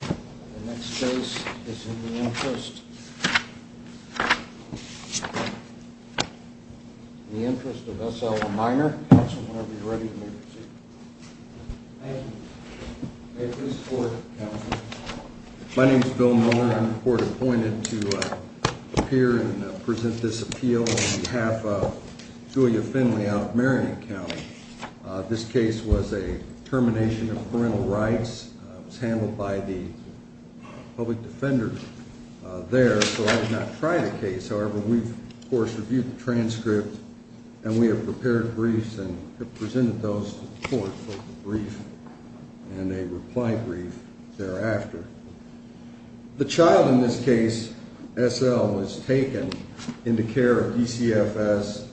The next case is in the interest of S. L. Minor whenever you're ready. My name is Bill Miller. I'm court-appointed to appear and present this appeal on behalf of Julia Finley out of Marion County. This case was a termination of parental rights. It was handled by the public defender there, so I did not try the case. However, we've, of course, reviewed the transcript and we have prepared briefs and have presented those to the court for a brief and a reply brief thereafter. The child in this case, S. L., was taken into care of DCFS.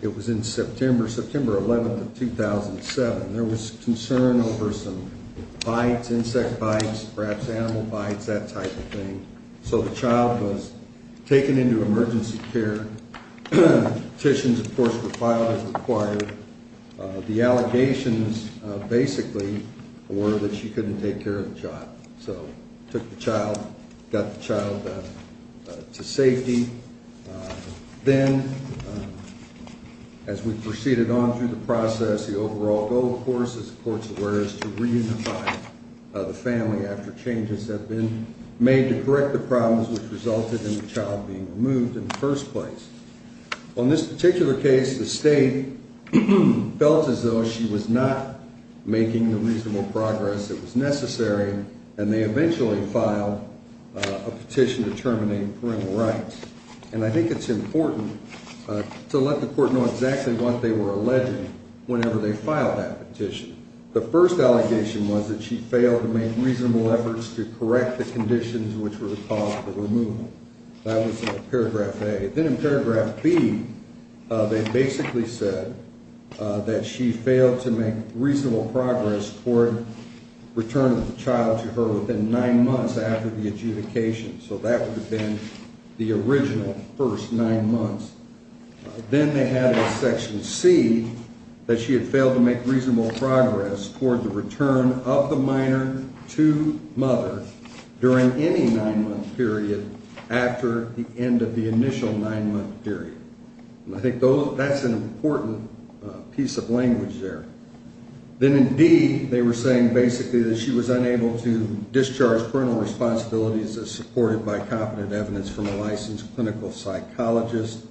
It was in September, September 11th of 2007. There was concern over some bites, insect bites, perhaps animal bites, that type of thing. So the child was taken into emergency care. Petitions, of course, were filed as required. The allegations, basically, were that she couldn't take care of the child. So took the child, got the child to safety. Then, as we proceeded on through the process, the overall goal, of course, as the court's aware, is to reunify the family after changes have been made to correct the problems which resulted in the child being removed in the first place. On this particular case, the state felt as though she was not making the reasonable progress that was necessary, and they eventually filed a petition to terminate parental rights. And I think it's important to let the court know exactly what they were alleging whenever they filed that petition. The first allegation was that she failed to make reasonable efforts to correct the conditions which were the cause of the removal. That was paragraph A. Then in paragraph B, they basically said that she failed to make reasonable progress toward returning the child to her within nine months after the adjudication. So that would have been the original first nine months. Then they had in section C that she had failed to make reasonable progress toward the return of the minor to mother during any nine-month period after the end of the initial nine-month period. And I think that's an important piece of language there. Then in D, they were saying basically that she was unable to discharge parental responsibilities as supported by competent evidence from a licensed clinical psychologist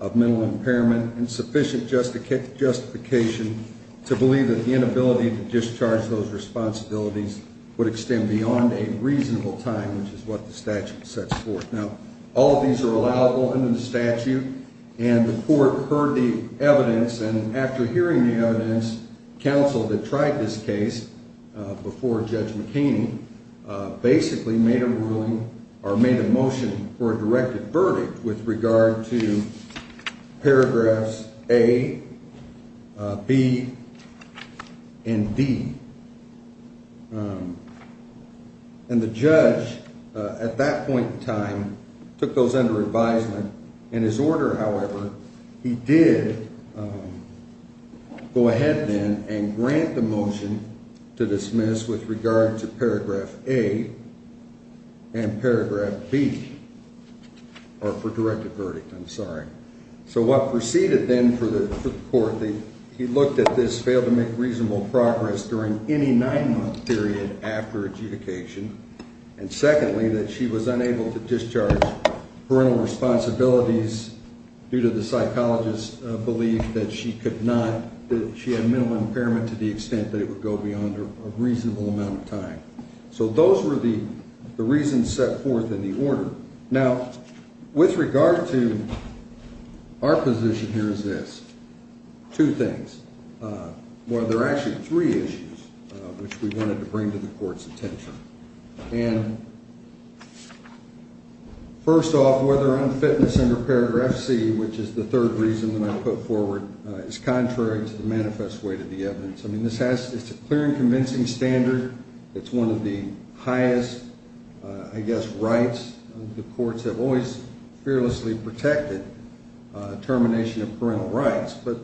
of mental impairment and sufficient justification to believe that the inability to discharge those responsibilities would extend beyond a reasonable time, which is what the statute sets forth. Now, all of these are allowed open in the statute, and the court heard the evidence. And after hearing the evidence, counsel that tried this case before Judge McHaney basically made a ruling or made a motion for a directed verdict with regard to paragraphs A, B, and D. And the judge at that point in time took those under advisement. In his order, however, he did go ahead then and grant the motion to dismiss with regard to paragraph A and paragraph B, or for directed verdict, I'm sorry. So what proceeded then for the court, he looked at this failed to make reasonable progress during any nine-month period after adjudication. And secondly, that she was unable to discharge parental responsibilities due to the psychologist's belief that she could not, that she had mental impairment to the extent that it would go beyond a reasonable amount of time. So those were the reasons set forth in the order. Now, with regard to our position here is this, two things. Well, there are actually three issues which we wanted to bring to the court's attention. And first off, whether unfitness under paragraph C, which is the third reason that I put forward, is contrary to the manifest way to the evidence. I mean, this has, it's a clear and convincing standard. It's one of the highest, I guess, rights. The courts have always fearlessly protected termination of parental rights, but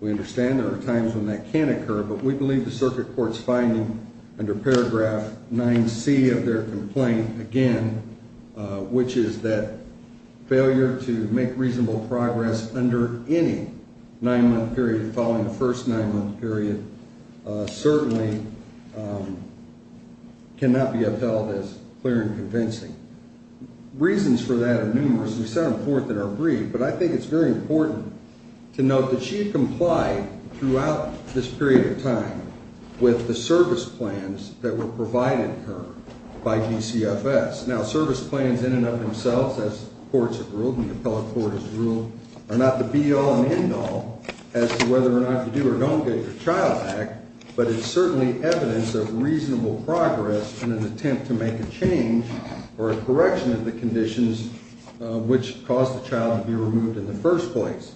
we understand there are times when that can occur. But we believe the circuit court's finding under paragraph 9C of their complaint, again, which is that failure to make reasonable progress under any nine-month period following the first nine-month period certainly cannot be upheld as clear and convincing. Reasons for that are numerous and set forth in our brief. But I think it's very important to note that she had complied throughout this period of time with the service plans that were provided to her by DCFS. Now, service plans in and of themselves, as courts have ruled, the appellate court has ruled, are not the be-all and end-all as to whether or not to do or don't get your child back. But it's certainly evidence of reasonable progress in an attempt to make a change or a correction of the conditions which caused the child to be removed in the first place.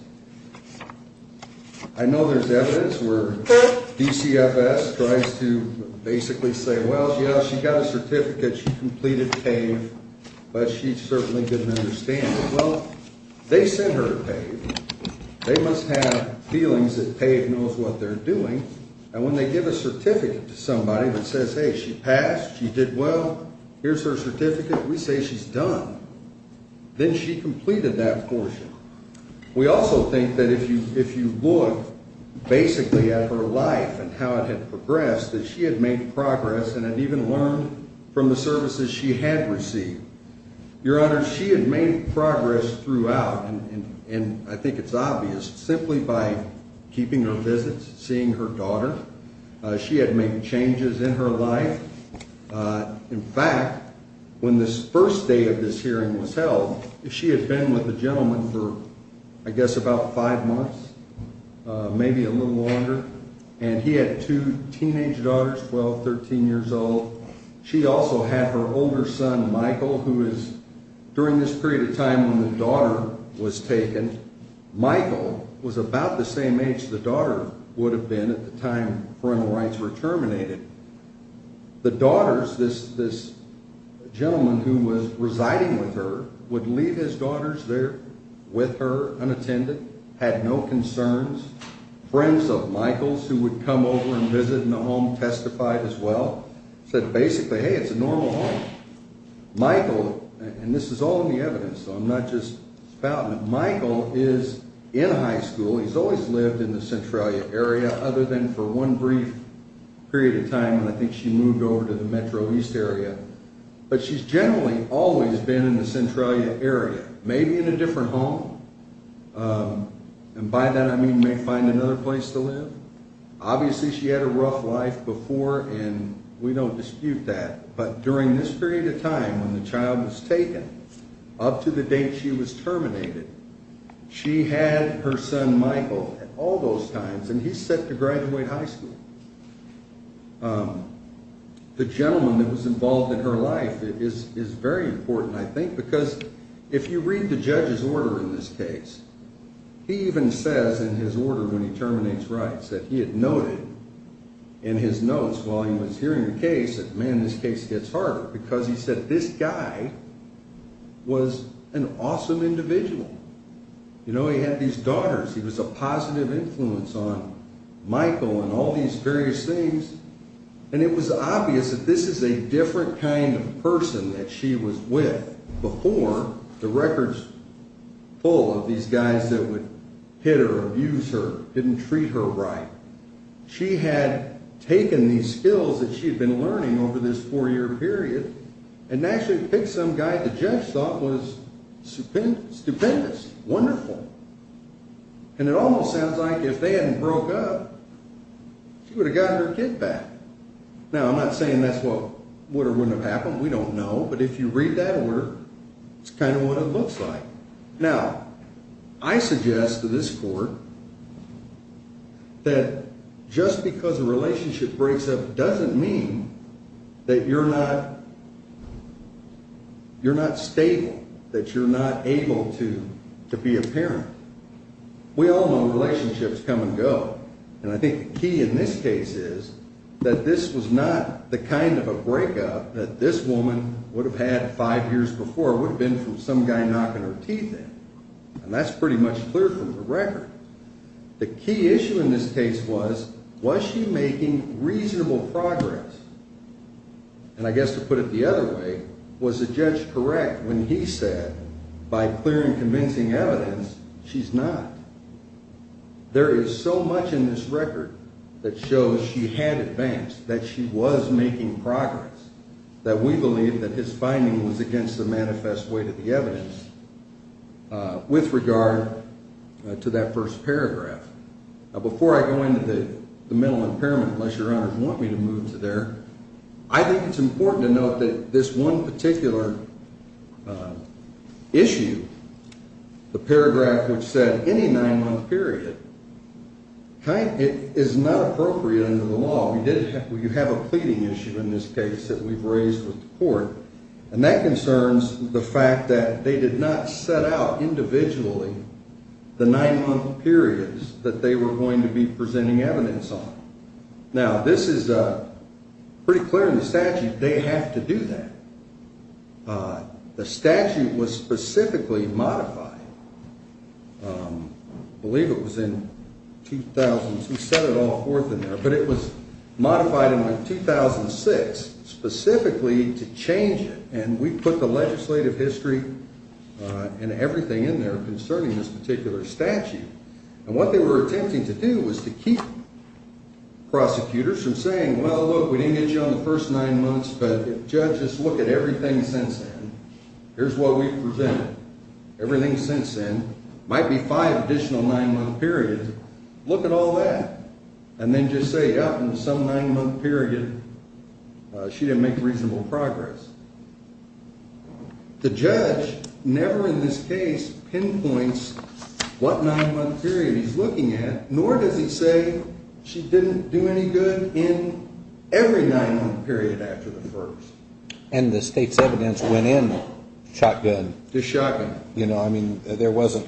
I know there's evidence where DCFS tries to basically say, well, yeah, she got a certificate, she completed PAVE, but she certainly didn't understand it. Well, they sent her to PAVE. They must have feelings that PAVE knows what they're doing. And when they give a certificate to somebody that says, hey, she passed, she did well, here's her certificate, we say she's done. Then she completed that portion. We also think that if you look basically at her life and how it had progressed, that she had made progress and had even learned from the services she had received. Your Honor, she had made progress throughout, and I think it's obvious, simply by keeping her visits, seeing her daughter. She had made changes in her life. In fact, when this first day of this hearing was held, she had been with a gentleman for, I guess, about five months, maybe a little longer. And he had two teenage daughters, 12, 13 years old. She also had her older son, Michael, who is, during this period of time when the daughter was taken, Michael was about the same age the daughter would have been at the time parental rights were terminated. The daughters, this gentleman who was residing with her, would leave his daughters there with her, unattended, had no concerns. Friends of Michael's who would come over and visit in the home testified as well, said basically, hey, it's a normal home. Michael, and this is all in the evidence, so I'm not just spouting it, Michael is in high school. He's always lived in the Centralia area, other than for one brief period of time when I think she moved over to the Metro East area. But she's generally always been in the Centralia area, maybe in a different home. And by that I mean may find another place to live. Obviously she had a rough life before, and we don't dispute that. But during this period of time when the child was taken, up to the date she was terminated, she had her son Michael at all those times, and he's set to graduate high school. The gentleman that was involved in her life is very important, I think, because if you read the judge's order in this case, he even says in his order when he terminates rights that he had noted in his notes while he was hearing the case that, man, this case gets harder. Because he said this guy was an awesome individual. You know, he had these daughters, he was a positive influence on Michael and all these various things. And it was obvious that this is a different kind of person that she was with before the records full of these guys that would hit her, abuse her, didn't treat her right. She had taken these skills that she had been learning over this four-year period and actually picked some guy that Jeff thought was stupendous, wonderful. And it almost sounds like if they hadn't broke up, she would have gotten her kid back. Now, I'm not saying that's what would or wouldn't have happened, we don't know, but if you read that order, it's kind of what it looks like. Now, I suggest to this court that just because a relationship breaks up doesn't mean that you're not stable, that you're not able to be a parent. We all know relationships come and go, and I think the key in this case is that this was not the kind of a breakup that this woman would have had five years before. It would have been from some guy knocking her teeth in, and that's pretty much clear from the record. The key issue in this case was, was she making reasonable progress? And I guess to put it the other way, was the judge correct when he said, by clear and convincing evidence, she's not? There is so much in this record that shows she had advanced, that she was making progress, that we believe that his finding was against the manifest way to the evidence with regard to that first paragraph. Now, before I go into the mental impairment, unless your honors want me to move to there, I think it's important to note that this one particular issue, the paragraph which said any nine-month period, is not appropriate under the law. You have a pleading issue in this case that we've raised with the court, and that concerns the fact that they did not set out individually the nine-month periods that they were going to be presenting evidence on. Now, this is pretty clear in the statute, they have to do that. The statute was specifically modified, I believe it was in 2000, we set it all forth in there, but it was modified in 2006, specifically to change it, and we put the legislative history and everything in there concerning this particular statute. And what they were attempting to do was to keep prosecutors from saying, well, look, we didn't get you on the first nine months, but if judges look at everything since then, here's what we've presented, everything since then, might be five additional nine-month periods, look at all that, and then just say, yeah, in some nine-month period, she didn't make reasonable progress. The judge never in this case pinpoints what nine-month period he's looking at, nor does he say she didn't do any good in every nine-month period after the first. And the state's evidence went in shotgun. Just shotgun. You know, I mean, there wasn't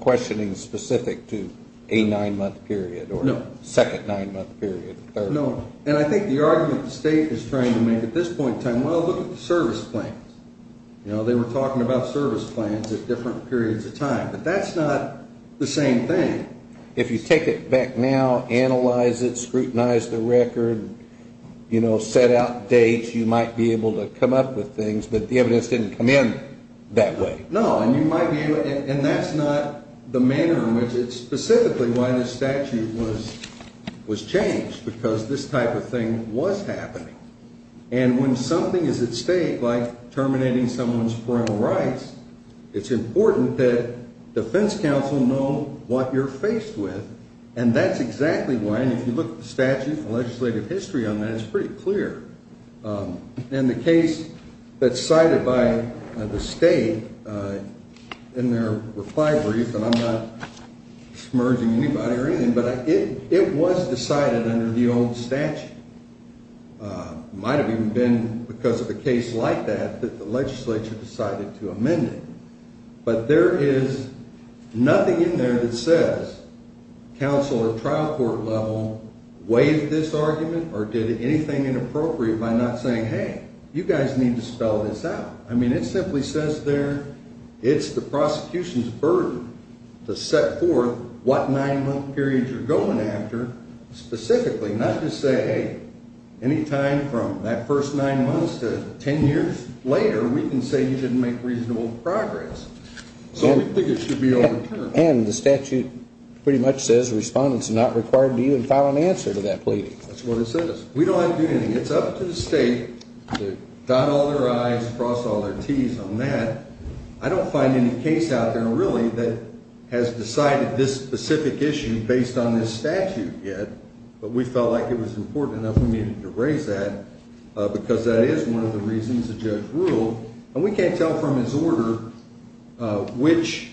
questioning specific to a nine-month period or second nine-month period, third. No, and I think the argument the state is trying to make at this point in time, well, look at the service plans. You know, they were talking about service plans at different periods of time, but that's not the same thing. If you take it back now, analyze it, scrutinize the record, you know, set out dates, you might be able to come up with things, but the evidence didn't come in that way. No, and that's not the manner in which it's specifically why this statute was changed, because this type of thing was happening. And when something is at stake, like terminating someone's parental rights, it's important that defense counsel know what you're faced with, and that's exactly why. And if you look at the statute and legislative history on that, it's pretty clear. And the case that's cited by the state in their reply brief, and I'm not submerging anybody or anything, but it was decided under the old statute. It might have even been because of a case like that that the legislature decided to amend it. But there is nothing in there that says counsel or trial court level waived this argument or did anything inappropriate by not saying, hey, you guys need to spell this out. I mean, it simply says there it's the prosecution's burden to set forth what nine-month periods you're going after specifically, not just say, hey, any time from that first nine months to ten years later, we can say you didn't make reasonable progress. So we think it should be overturned. And the statute pretty much says respondents are not required to even file an answer to that plea. That's what it says. We don't have to do anything. It's up to the state to dot all their I's, cross all their T's on that. I don't find any case out there, really, that has decided this specific issue based on this statute yet. But we felt like it was important enough we needed to raise that, because that is one of the reasons the judge ruled. And we can't tell from his order which,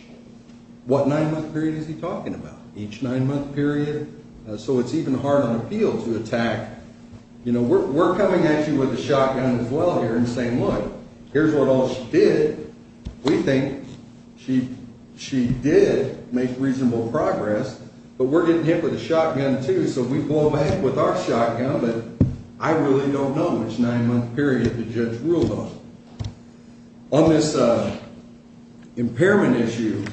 what nine-month period is he talking about, each nine-month period? So it's even hard on appeal to attack, you know, we're coming at you with a shotgun as well here and saying, look, here's what all she did. We think she did make reasonable progress, but we're getting hit with a shotgun, too, so we blow back with our shotgun, but I really don't know which nine-month period the judge ruled on. On this impairment issue,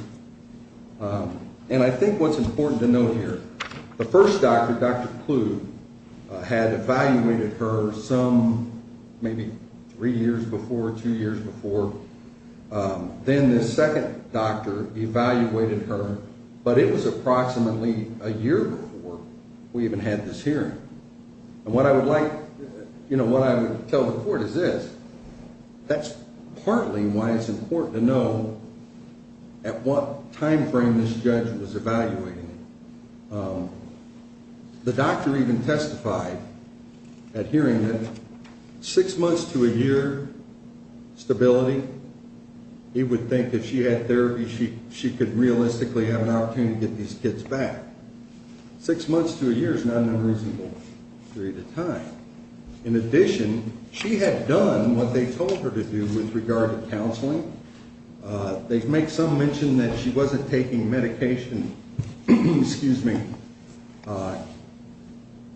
and I think what's important to note here, the first doctor, Dr. Kluge, had evaluated her some maybe three years before, two years before. Then the second doctor evaluated her, but it was approximately a year before we even had this hearing. And what I would like, you know, what I would tell the court is this, that's partly why it's important to know at what time frame this judge was evaluating. The doctor even testified at hearing that six months to a year stability, he would think if she had therapy, she could realistically have an opportunity to get these kids back. Six months to a year is not an unreasonable period of time. In addition, she had done what they told her to do with regard to counseling. They make some mention that she wasn't taking medication, excuse me,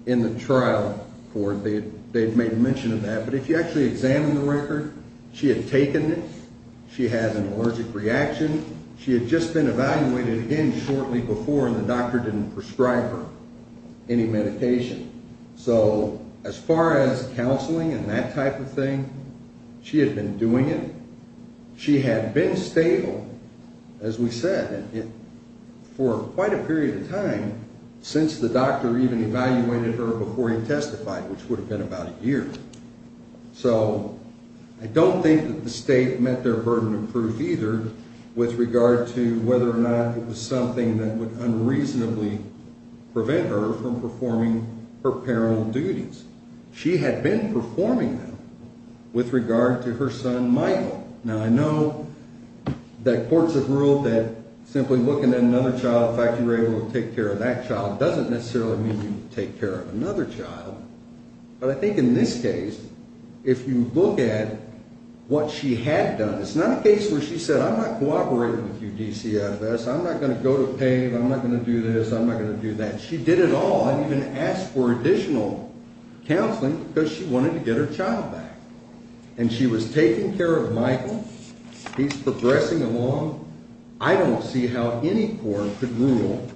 in the trial court. They've made mention of that, but if you actually examine the record, she had taken it, she had an allergic reaction. She had just been evaluated again shortly before and the doctor didn't prescribe her any medication. So as far as counseling and that type of thing, she had been doing it. She had been stable, as we said, for quite a period of time since the doctor even evaluated her before he testified, which would have been about a year. So I don't think that the state met their burden of proof either with regard to whether or not it was something that would unreasonably prevent her from performing her parental duties. She had been performing them with regard to her son Michael. Now I know that courts have ruled that simply looking at another child, the fact that you were able to take care of that child doesn't necessarily mean you take care of another child. But I think in this case, if you look at what she had done, it's not a case where she said I'm not cooperating with you DCFS, I'm not going to go to PAVE, I'm not going to do this, I'm not going to do that. She did it all and even asked for additional counseling because she wanted to get her child back. And she was taking care of Michael, he's progressing along. I don't see how any court could rule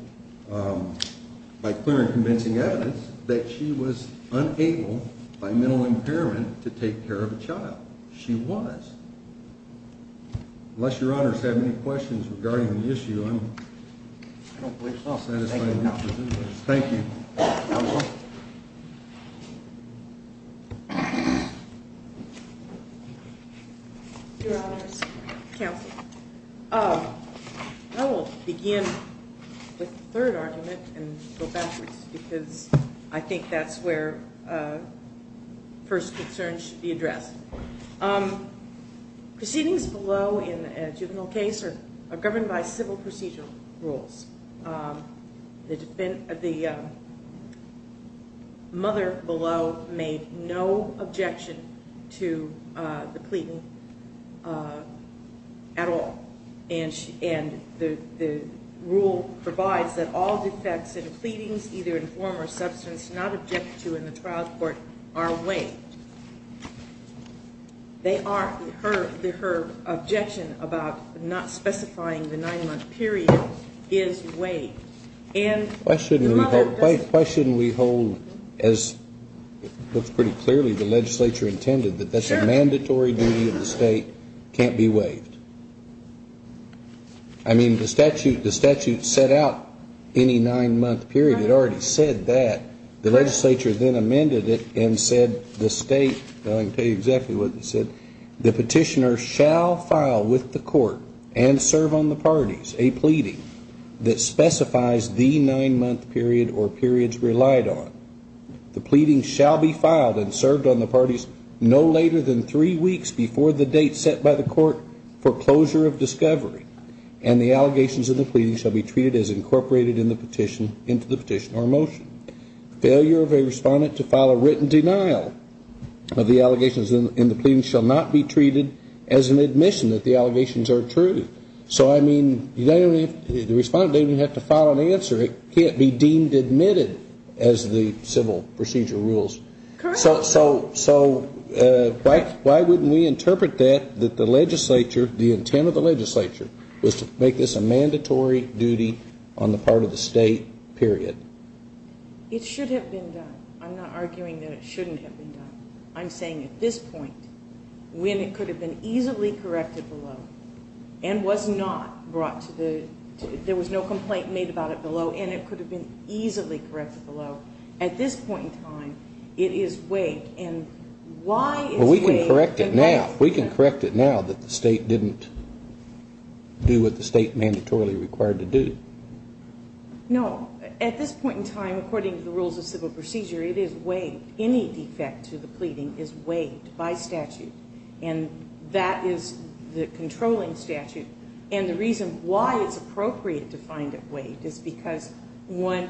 by clear and convincing evidence that she was unable by mental impairment to take care of a child. She was. Unless your honors have any questions regarding the issue, I don't believe I'll satisfy your position. Thank you. Your honors, counsel. I will begin with the third argument and go backwards because I think that's where first concerns should be addressed. Proceedings below in a juvenile case are governed by civil procedural rules. The mother below made no objection to the pleading at all. And the rule provides that all defects in pleadings either in form or substance not objected to in the trial court are waived. They are, her objection about not specifying the nine month period is waived. Why shouldn't we hold as it looks pretty clearly the legislature intended that that's a mandatory duty of the state, can't be waived. I mean the statute set out any nine month period, it already said that. The legislature then amended it and said the state, I can tell you exactly what it said. The petitioner shall file with the court and serve on the parties a pleading that specifies the nine month period or periods relied on. The pleading shall be filed and served on the parties no later than three weeks before the date set by the court for closure of discovery. And the allegations in the pleading shall be treated as incorporated in the petition into the petition or motion. Failure of a respondent to file a written denial of the allegations in the pleading shall not be treated as an admission that the allegations are true. So I mean the respondent doesn't even have to file an answer, it can't be deemed admitted as the civil procedural rules. So why wouldn't we interpret that, that the legislature, the intent of the legislature was to make this a mandatory duty on the part of the state, period? It should have been done. I'm not arguing that it shouldn't have been done. I'm saying at this point when it could have been easily corrected below and was not brought to the, there was no complaint made about it below and it could have been easily corrected below. At this point in time, it is waived. And why is waived? We can correct it now. We can correct it now that the state didn't do what the state mandatorily required to do. No. At this point in time, according to the rules of civil procedure, it is waived. Any defect to the pleading is waived by statute. And that is the controlling statute. And the reason why it's appropriate to find it waived is because one,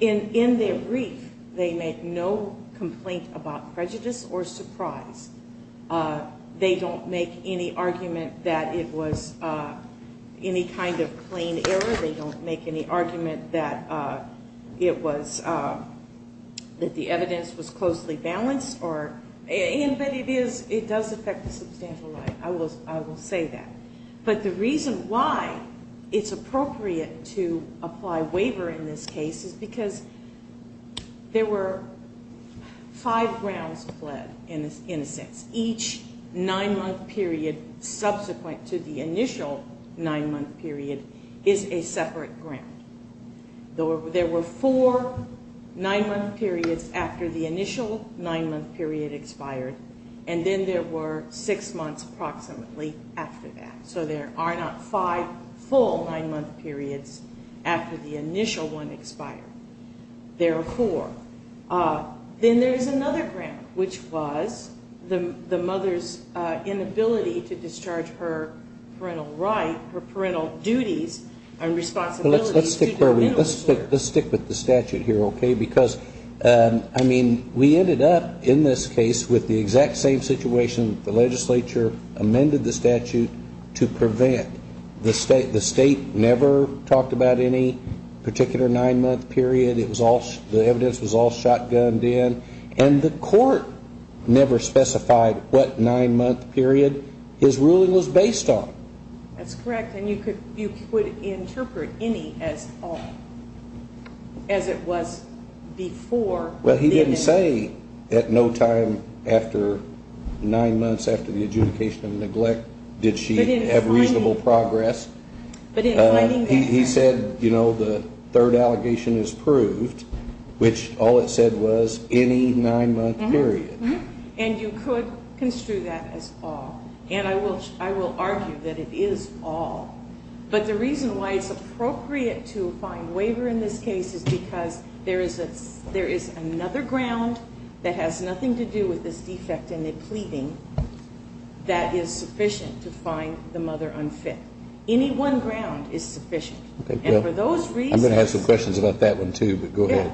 in their brief, they make no complaint about prejudice or surprise. They don't make any argument that it was any kind of plain error. They don't make any argument that it was, that the evidence was closely balanced or, and, but it is, it does affect the substantial right. I will say that. But the reason why it's appropriate to apply waiver in this case is because there were five rounds pled in a sense. Each nine-month period subsequent to the initial nine-month period is a separate ground. There were four nine-month periods after the initial nine-month period expired, and then there were six months approximately after that. So there are not five full nine-month periods after the initial one expired. There are four. Then there is another ground, which was the mother's inability to discharge her parental right, her parental duties and responsibilities. Let's stick with the statute here, okay? Because, I mean, we ended up in this case with the exact same situation. The legislature amended the statute to prevent. The state never talked about any particular nine-month period. It was all, the evidence was all shotgunned in. And the court never specified what nine-month period his ruling was based on. That's correct. And you could, you could interpret any as all, as it was before. Well, he didn't say at no time after nine months after the adjudication of neglect did she have reasonable progress. He said, you know, the third allegation is proved, which all it said was any nine-month period. And you could construe that as all. And I will argue that it is all. But the reason why it's appropriate to find waiver in this case is because there is another ground that has nothing to do with this defect in the pleading that is sufficient to find the mother unfit. Any one ground is sufficient. And for those reasons. I'm going to have some questions about that one too, but go ahead.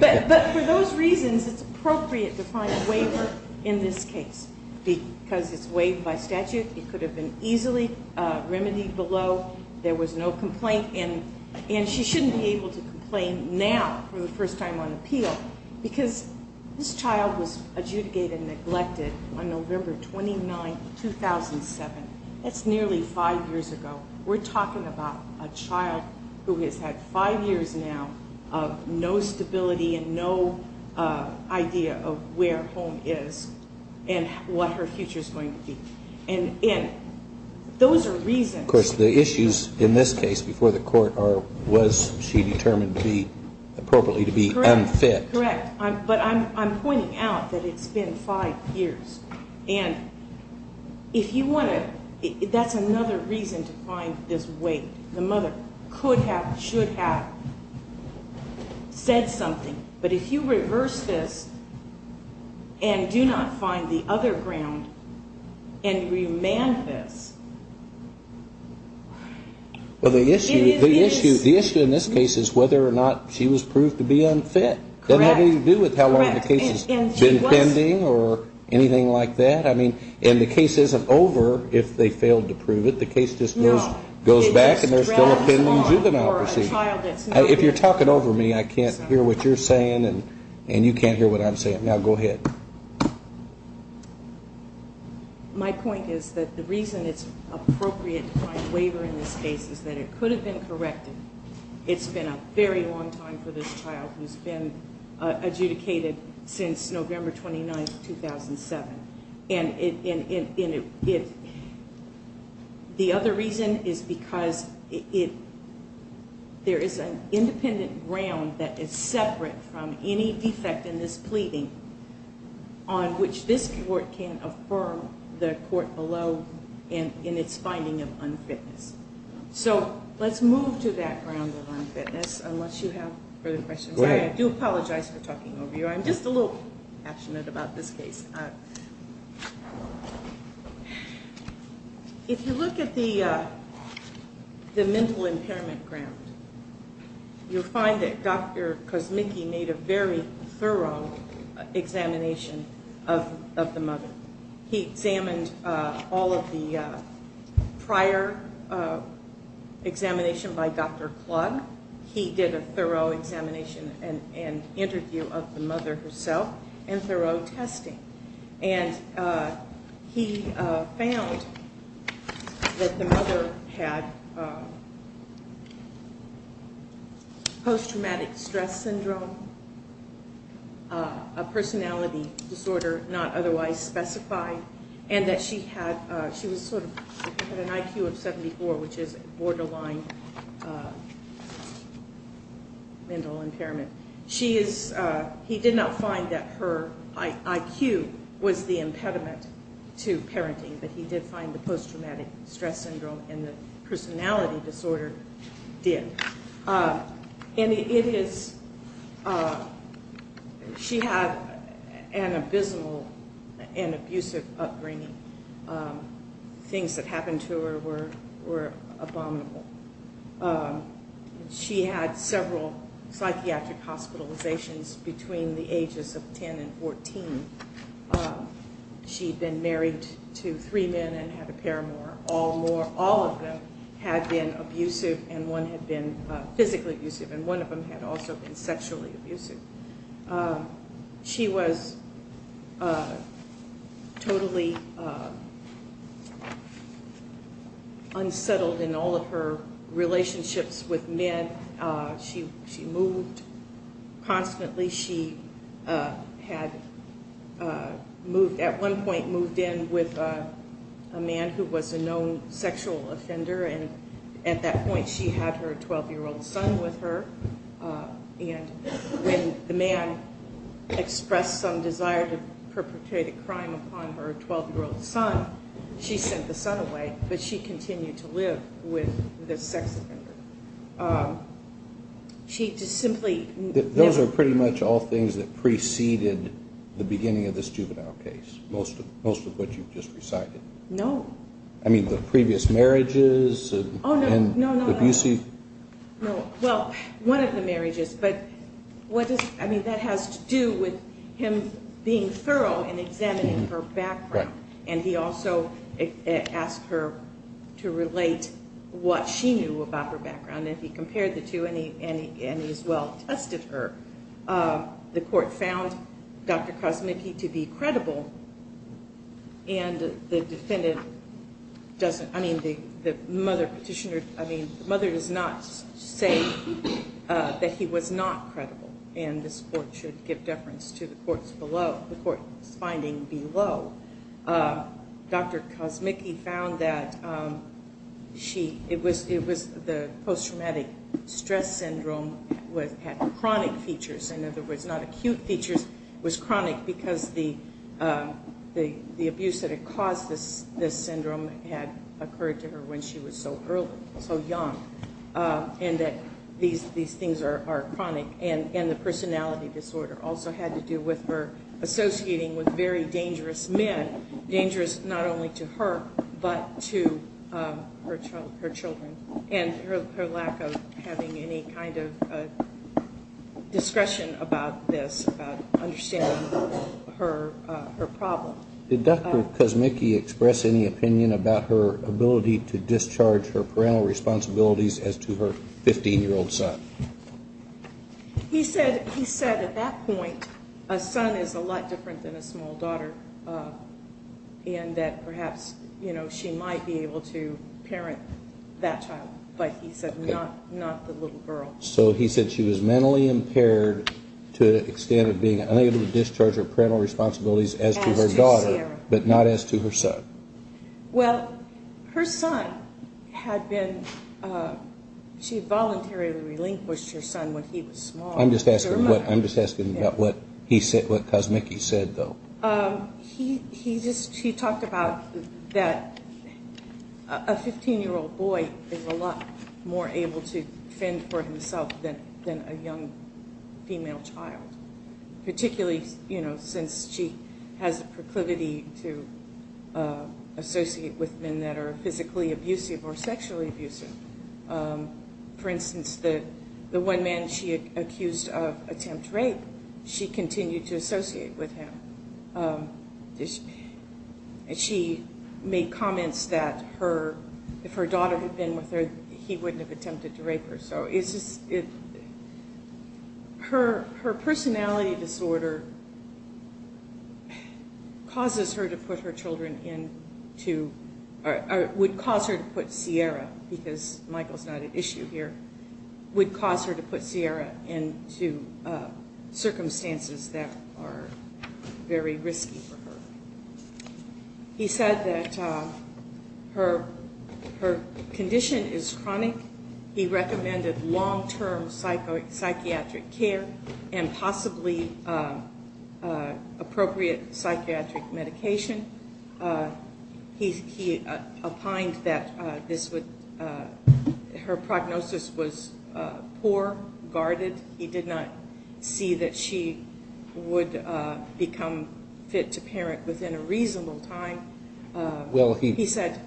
But for those reasons, it's appropriate to find a waiver in this case because it's waived by statute. It could have been easily remedied below. There was no complaint. And she shouldn't be able to complain now for the first time on appeal because this child was adjudicated neglected on November 29, 2007. That's nearly five years ago. We're talking about a child who has had five years now of no stability and no idea of where home is and what her future is going to be. And those are reasons. Of course, the issues in this case before the court are was she determined to be appropriately to be unfit. Correct. But I'm pointing out that it's been five years. And if you want to. That's another reason to find this way. The mother could have should have said something. But if you reverse this and do not find the other ground and remand this. Well, the issue, the issue, the issue in this case is whether or not she was proved to be unfit. That had nothing to do with how long the case has been pending or anything like that. I mean, and the case isn't over if they failed to prove it. The case just goes back and there's still a pending juvenile proceeding. If you're talking over me, I can't hear what you're saying and you can't hear what I'm saying. Now, go ahead. My point is that the reason it's appropriate to find waiver in this case is that it could have been corrected. It's been a very long time for this child who's been adjudicated since November 29th, 2007. And if the other reason is because it there is an independent ground that is separate from any defect in this pleading. On which this court can affirm the court below in its finding of unfitness. So let's move to that ground of unfitness unless you have further questions. I do apologize for talking over you. I'm just a little passionate about this case. If you look at the mental impairment ground, you'll find that Dr. Kosmicki made a very thorough examination of the mother. He examined all of the prior examination by Dr. Klug. He did a thorough examination and interview of the mother herself and thorough testing. And he found that the mother had post-traumatic stress syndrome, a personality disorder not otherwise specified. And that she had an IQ of 74, which is a borderline mental impairment. He did not find that her IQ was the impediment to parenting, but he did find the post-traumatic stress syndrome and the personality disorder did. She had an abysmal and abusive upbringing. Things that happened to her were abominable. She had several psychiatric hospitalizations between the ages of 10 and 14. She'd been married to three men and had a paramour. All of them had been abusive and one had been physically abusive and one of them had also been sexually abusive. She was totally unsettled in all of her relationships with men. She moved constantly. She had at one point moved in with a man who was a known sexual offender and at that point she had her 12-year-old son with her. And when the man expressed some desire to perpetrate a crime upon her 12-year-old son, she sent the son away, but she continued to live with the sex offender. She just simply... Those are pretty much all things that preceded the beginning of this juvenile case, most of what you've just recited. No. I mean the previous marriages and abusive... Well, one of the marriages, but that has to do with him being thorough in examining her background. And he also asked her to relate what she knew about her background and he compared the two and he as well tested her. The court found Dr. Kosmicki to be credible and the defendant doesn't... I mean the mother petitioner... I mean the mother does not say that he was not credible and this court should give deference to the court's finding below. Dr. Kosmicki found that it was the post-traumatic stress syndrome that had chronic features. In other words, not acute features, it was chronic because the abuse that had caused this syndrome had occurred to her when she was so young. And that these things are chronic and the personality disorder also had to do with her associating with very dangerous men, dangerous not only to her, but to her children. And her lack of having any kind of discretion about this, about understanding her problem. Did Dr. Kosmicki express any opinion about her ability to discharge her parental responsibilities as to her 15-year-old son? He said at that point a son is a lot different than a small daughter and that perhaps she might be able to parent that child, but he said not the little girl. So he said she was mentally impaired to the extent of being unable to discharge her parental responsibilities as to her daughter, but not as to her son. Well, her son had been... she voluntarily relinquished her son when he was small. I'm just asking about what Kosmicki said though. He talked about that a 15-year-old boy is a lot more able to fend for himself than a young female child. Particularly since she has the proclivity to associate with men that are physically abusive or sexually abusive. For instance, the one man she accused of attempt rape, she continued to associate with him. She made comments that if her daughter had been with her, he wouldn't have attempted to rape her. Her personality disorder causes her to put her children into... would cause her to put Sierra, because Michael's not at issue here, would cause her to put Sierra into circumstances that are very risky for her. He said that her condition is chronic. He recommended long-term psychiatric care and possibly appropriate psychiatric medication. He opined that her prognosis was poor, guarded. He did not see that she would become fit to parent within a reasonable time. He said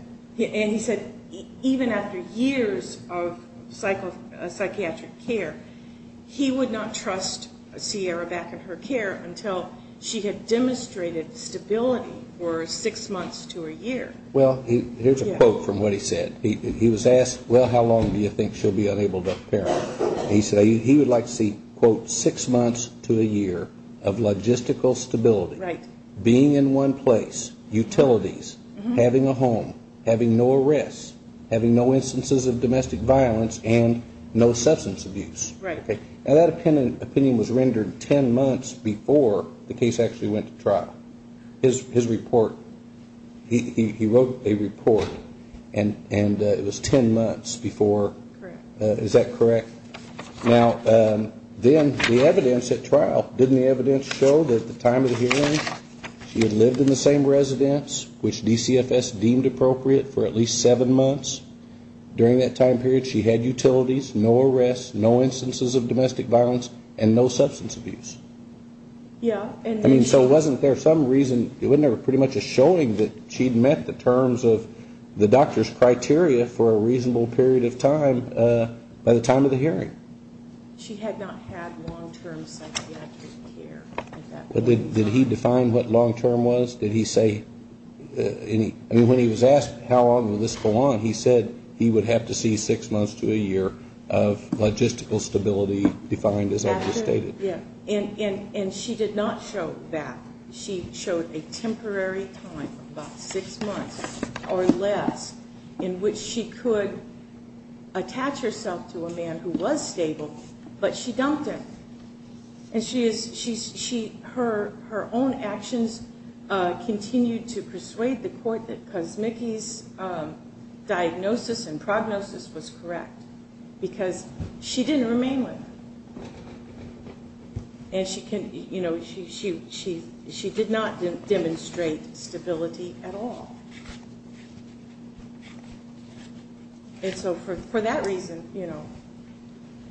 even after years of psychiatric care, he would not trust Sierra back in her care until she had demonstrated stability for six months to a year. Here's a quote from what he said. He was asked, well, how long do you think she'll be unable to parent? He said he would like to see, quote, six months to a year of logistical stability, being in one place, utilities, having a home, having no arrests, having no instances of domestic violence and no substance abuse. And that opinion was rendered ten months before the case actually went to trial. His report, he wrote a report, and it was ten months before. Is that correct? Now, then the evidence at trial, didn't the evidence show that at the time of the hearing she had lived in the same residence, which DCFS deemed appropriate for at least seven months? During that time period she had utilities, no arrests, no instances of domestic violence and no substance abuse. I mean, so wasn't there some reason, wasn't there pretty much a showing that she'd met the terms of the doctor's criteria for a reasonable period of time by the time of the hearing? She had not had long-term psychiatric care at that point in time. Did he define what long-term was? Did he say any, I mean, when he was asked how long would this go on, he said he would have to see six months to a year of logistical stability defined as I just stated. And she did not show that. She showed a temporary time of about six months or less in which she could attach herself to a man who was stable, but she dumped him. And her own actions continued to persuade the court that Kosmicki's diagnosis and prognosis was correct because she didn't remain with him. And she, you know, she did not demonstrate stability at all. And so for that reason, you know.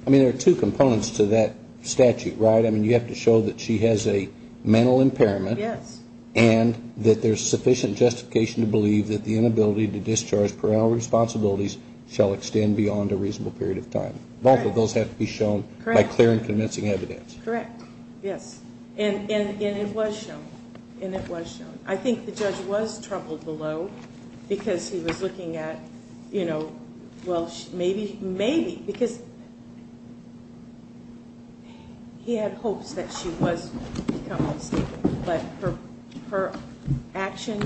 I mean, there are two components to that statute, right? I mean, you have to show that she has a mental impairment. Yes. And that there's sufficient justification to believe that the inability to discharge parental responsibilities shall extend beyond a reasonable period of time. Both of those have to be shown by clear and convincing evidence. Correct. Yes. And it was shown. And it was shown. I think the judge was troubled below because he was looking at, you know, well, maybe. Because he had hopes that she was becoming stable. But her action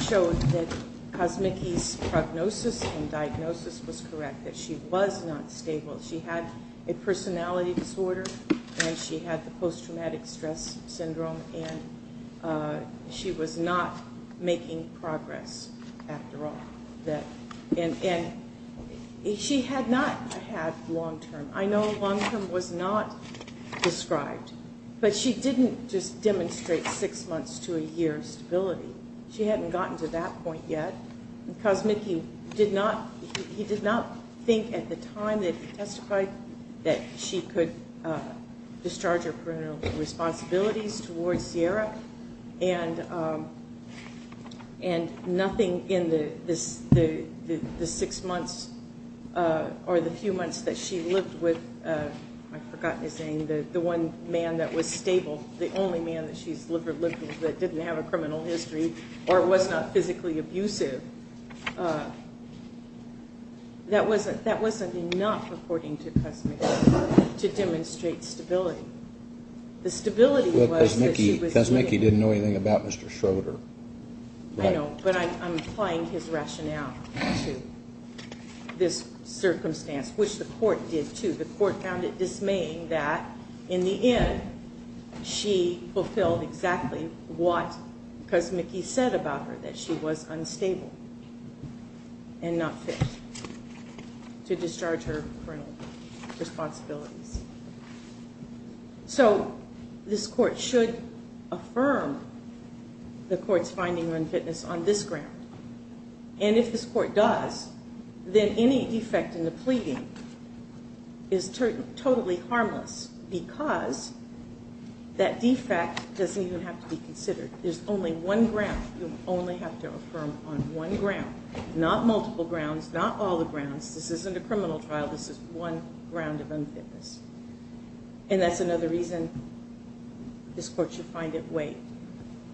showed that Kosmicki's prognosis and diagnosis was correct, that she was not stable. She had a personality disorder and she had the post-traumatic stress syndrome and she was not making progress after all. And she had not had long-term. I know long-term was not described. But she didn't just demonstrate six months to a year stability. She hadn't gotten to that point yet. Kosmicki did not, he did not think at the time that he testified that she could discharge her parental responsibilities towards Sierra. And nothing in the six months or the few months that she lived with, I've forgotten his name, the one man that was stable, the only man that she's lived with that didn't have a criminal history or was not physically abusive. That wasn't enough, according to Kosmicki, to demonstrate stability. The stability was that she was living. Kosmicki didn't know anything about Mr. Schroeder. I know, but I'm applying his rationale to this circumstance, which the court did too. The court found it dismaying that in the end she fulfilled exactly what Kosmicki said about her, that she was unstable and not fit to discharge her parental responsibilities. So this court should affirm the court's finding of unfitness on this ground. And if this court does, then any defect in the pleading is totally harmless because that defect doesn't even have to be considered. There's only one ground, you only have to affirm on one ground, not multiple grounds, not all the grounds, this isn't a criminal trial, this is one ground of unfitness. And that's another reason this court should find it waived.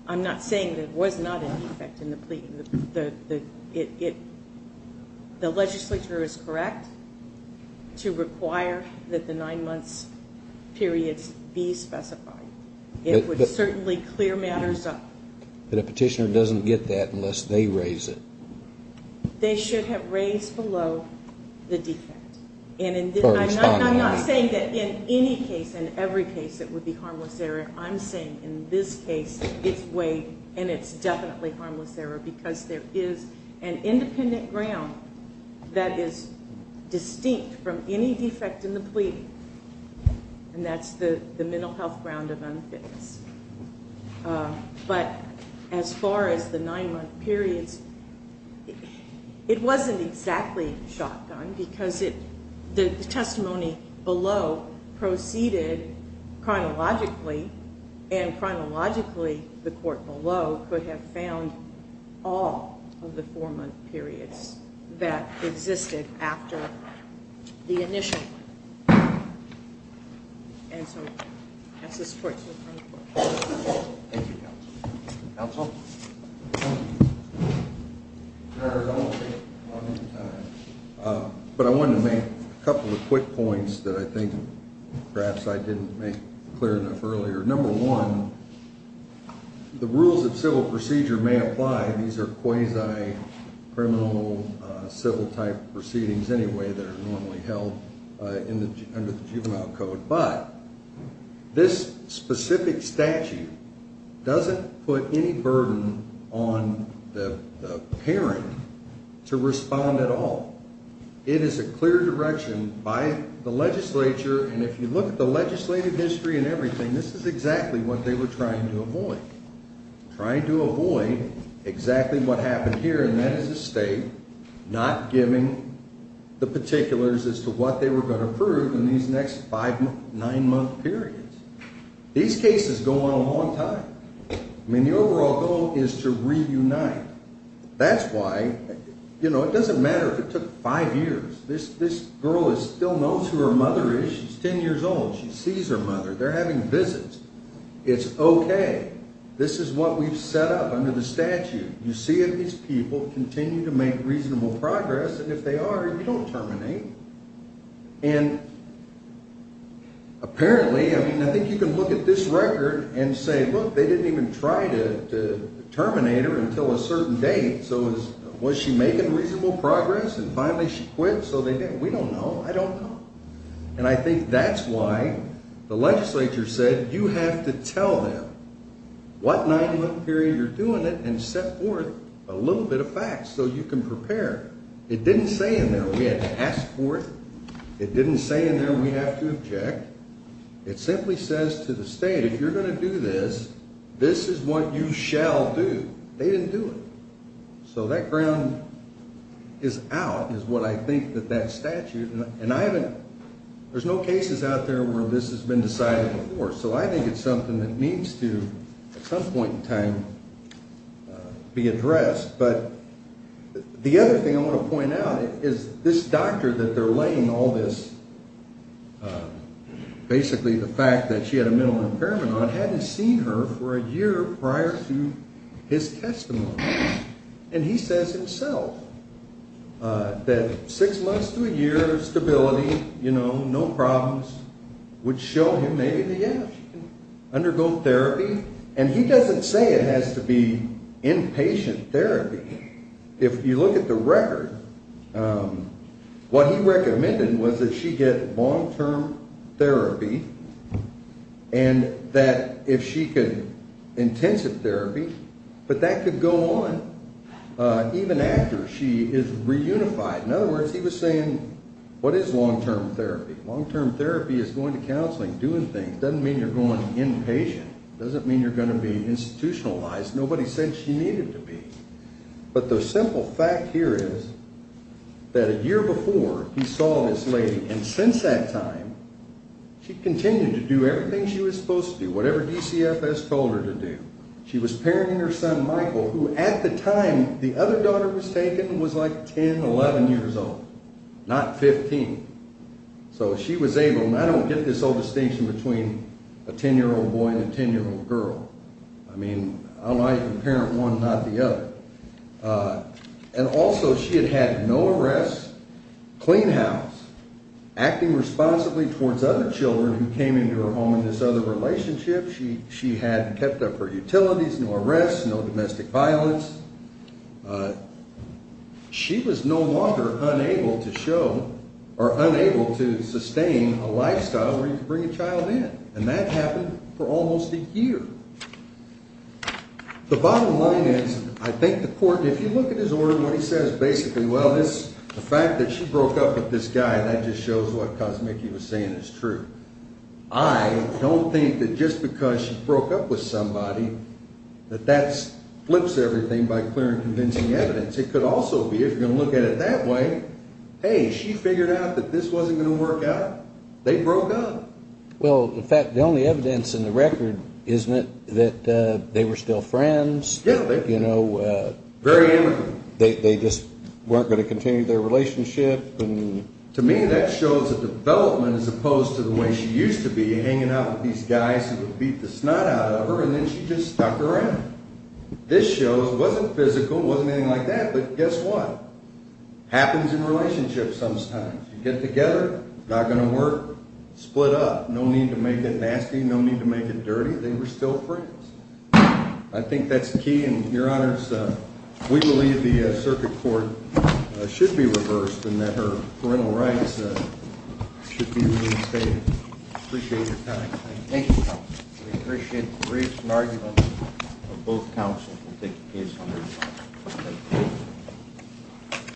I'm not saying that it was not a defect in the pleading, the legislature is correct to require that the nine months' periods be specified. It would certainly clear matters up. But a petitioner doesn't get that unless they raise it. They should have raised below the defect. I'm not saying that in any case, in every case, it would be harmless error. I'm saying in this case it's waived and it's definitely harmless error because there is an independent ground that is distinct from any defect in the pleading. And that's the mental health ground of unfitness. But as far as the nine month periods, it wasn't exactly shotgun because the testimony below proceeded chronologically, and chronologically the court below could have found all of the four month periods that existed after the initial one. And so that's the support to the front of the court. Thank you counsel. Counsel? But I wanted to make a couple of quick points that I think perhaps I didn't make clear enough earlier. Number one, the rules of civil procedure may apply. These are quasi-criminal civil type proceedings anyway that are normally held under the juvenile code. This specific statute doesn't put any burden on the parent to respond at all. It is a clear direction by the legislature, and if you look at the legislative history and everything, this is exactly what they were trying to avoid. Trying to avoid exactly what happened here, and that is the state not giving the particulars as to what they were going to prove in these next five, nine month periods. These cases go on a long time. I mean the overall goal is to reunite. That's why, you know, it doesn't matter if it took five years. This girl still knows who her mother is. She's ten years old. She sees her mother. They're having visits. It's okay. That's what we've set up under the statute. You see if these people continue to make reasonable progress, and if they are, you don't terminate. And apparently, I mean, I think you can look at this record and say, look, they didn't even try to terminate her until a certain date. So was she making reasonable progress, and finally she quit, so they didn't. We don't know. I don't know. And I think that's why the legislature said you have to tell them what nine month period you're doing it and set forth a little bit of facts so you can prepare. It didn't say in there we had to ask for it. It didn't say in there we have to object. It simply says to the state, if you're going to do this, this is what you shall do. They didn't do it. So that ground is out is what I think that that statute. And I haven't, there's no cases out there where this has been decided before. So I think it's something that needs to at some point in time be addressed. But the other thing I want to point out is this doctor that they're laying all this, basically the fact that she had a mental impairment on, hadn't seen her for a year prior to his testimony. And he says himself that six months to a year of stability, you know, no problems, would show him maybe, yeah, she can undergo therapy. And he doesn't say it has to be inpatient therapy. If you look at the record, what he recommended was that she get long-term therapy and that if she could, intensive therapy. But that could go on even after she is reunified. In other words, he was saying, what is long-term therapy? Long-term therapy is going to counseling, doing things. It doesn't mean you're going inpatient. It doesn't mean you're going to be institutionalized. Nobody said she needed to be. But the simple fact here is that a year before, he saw this lady. And since that time, she continued to do everything she was supposed to do, whatever DCFS told her to do. She was parenting her son, Michael, who at the time, the other daughter was taken, was like 10, 11 years old, not 15. So she was able, and I don't get this old distinction between a 10-year-old boy and a 10-year-old girl. I mean, I like to parent one, not the other. And also, she had had no arrests, clean house, acting responsibly towards other children who came into her home in this other relationship. She had kept up her utilities, no arrests, no domestic violence. She was no longer unable to show, or unable to sustain a lifestyle where you could bring a child in. And that happened for almost a year. The bottom line is, I think the court, if you look at his order, what he says basically, well, this, the fact that she broke up with this guy, that just shows what Kosmicki was saying is true. I don't think that just because she broke up with somebody, that that flips everything by clear and convincing evidence. It could also be, if you're going to look at it that way, hey, she figured out that this wasn't going to work out. They broke up. Well, in fact, the only evidence in the record, isn't it, that they were still friends? Yeah, they were. You know, they just weren't going to continue their relationship. To me, that shows a development as opposed to the way she used to be, hanging out with these guys who would beat the snot out of her, and then she just stuck around. This shows, it wasn't physical, it wasn't anything like that, but guess what? Happens in relationships sometimes. You get together, it's not going to work, split up. No need to make it nasty, no need to make it dirty. They were still friends. I think that's key, and your honors, we believe the circuit court should be reversed, and that her parental rights should be reinstated. Appreciate your time. Thank you, counsel. We appreciate the briefs and arguments of both counsels.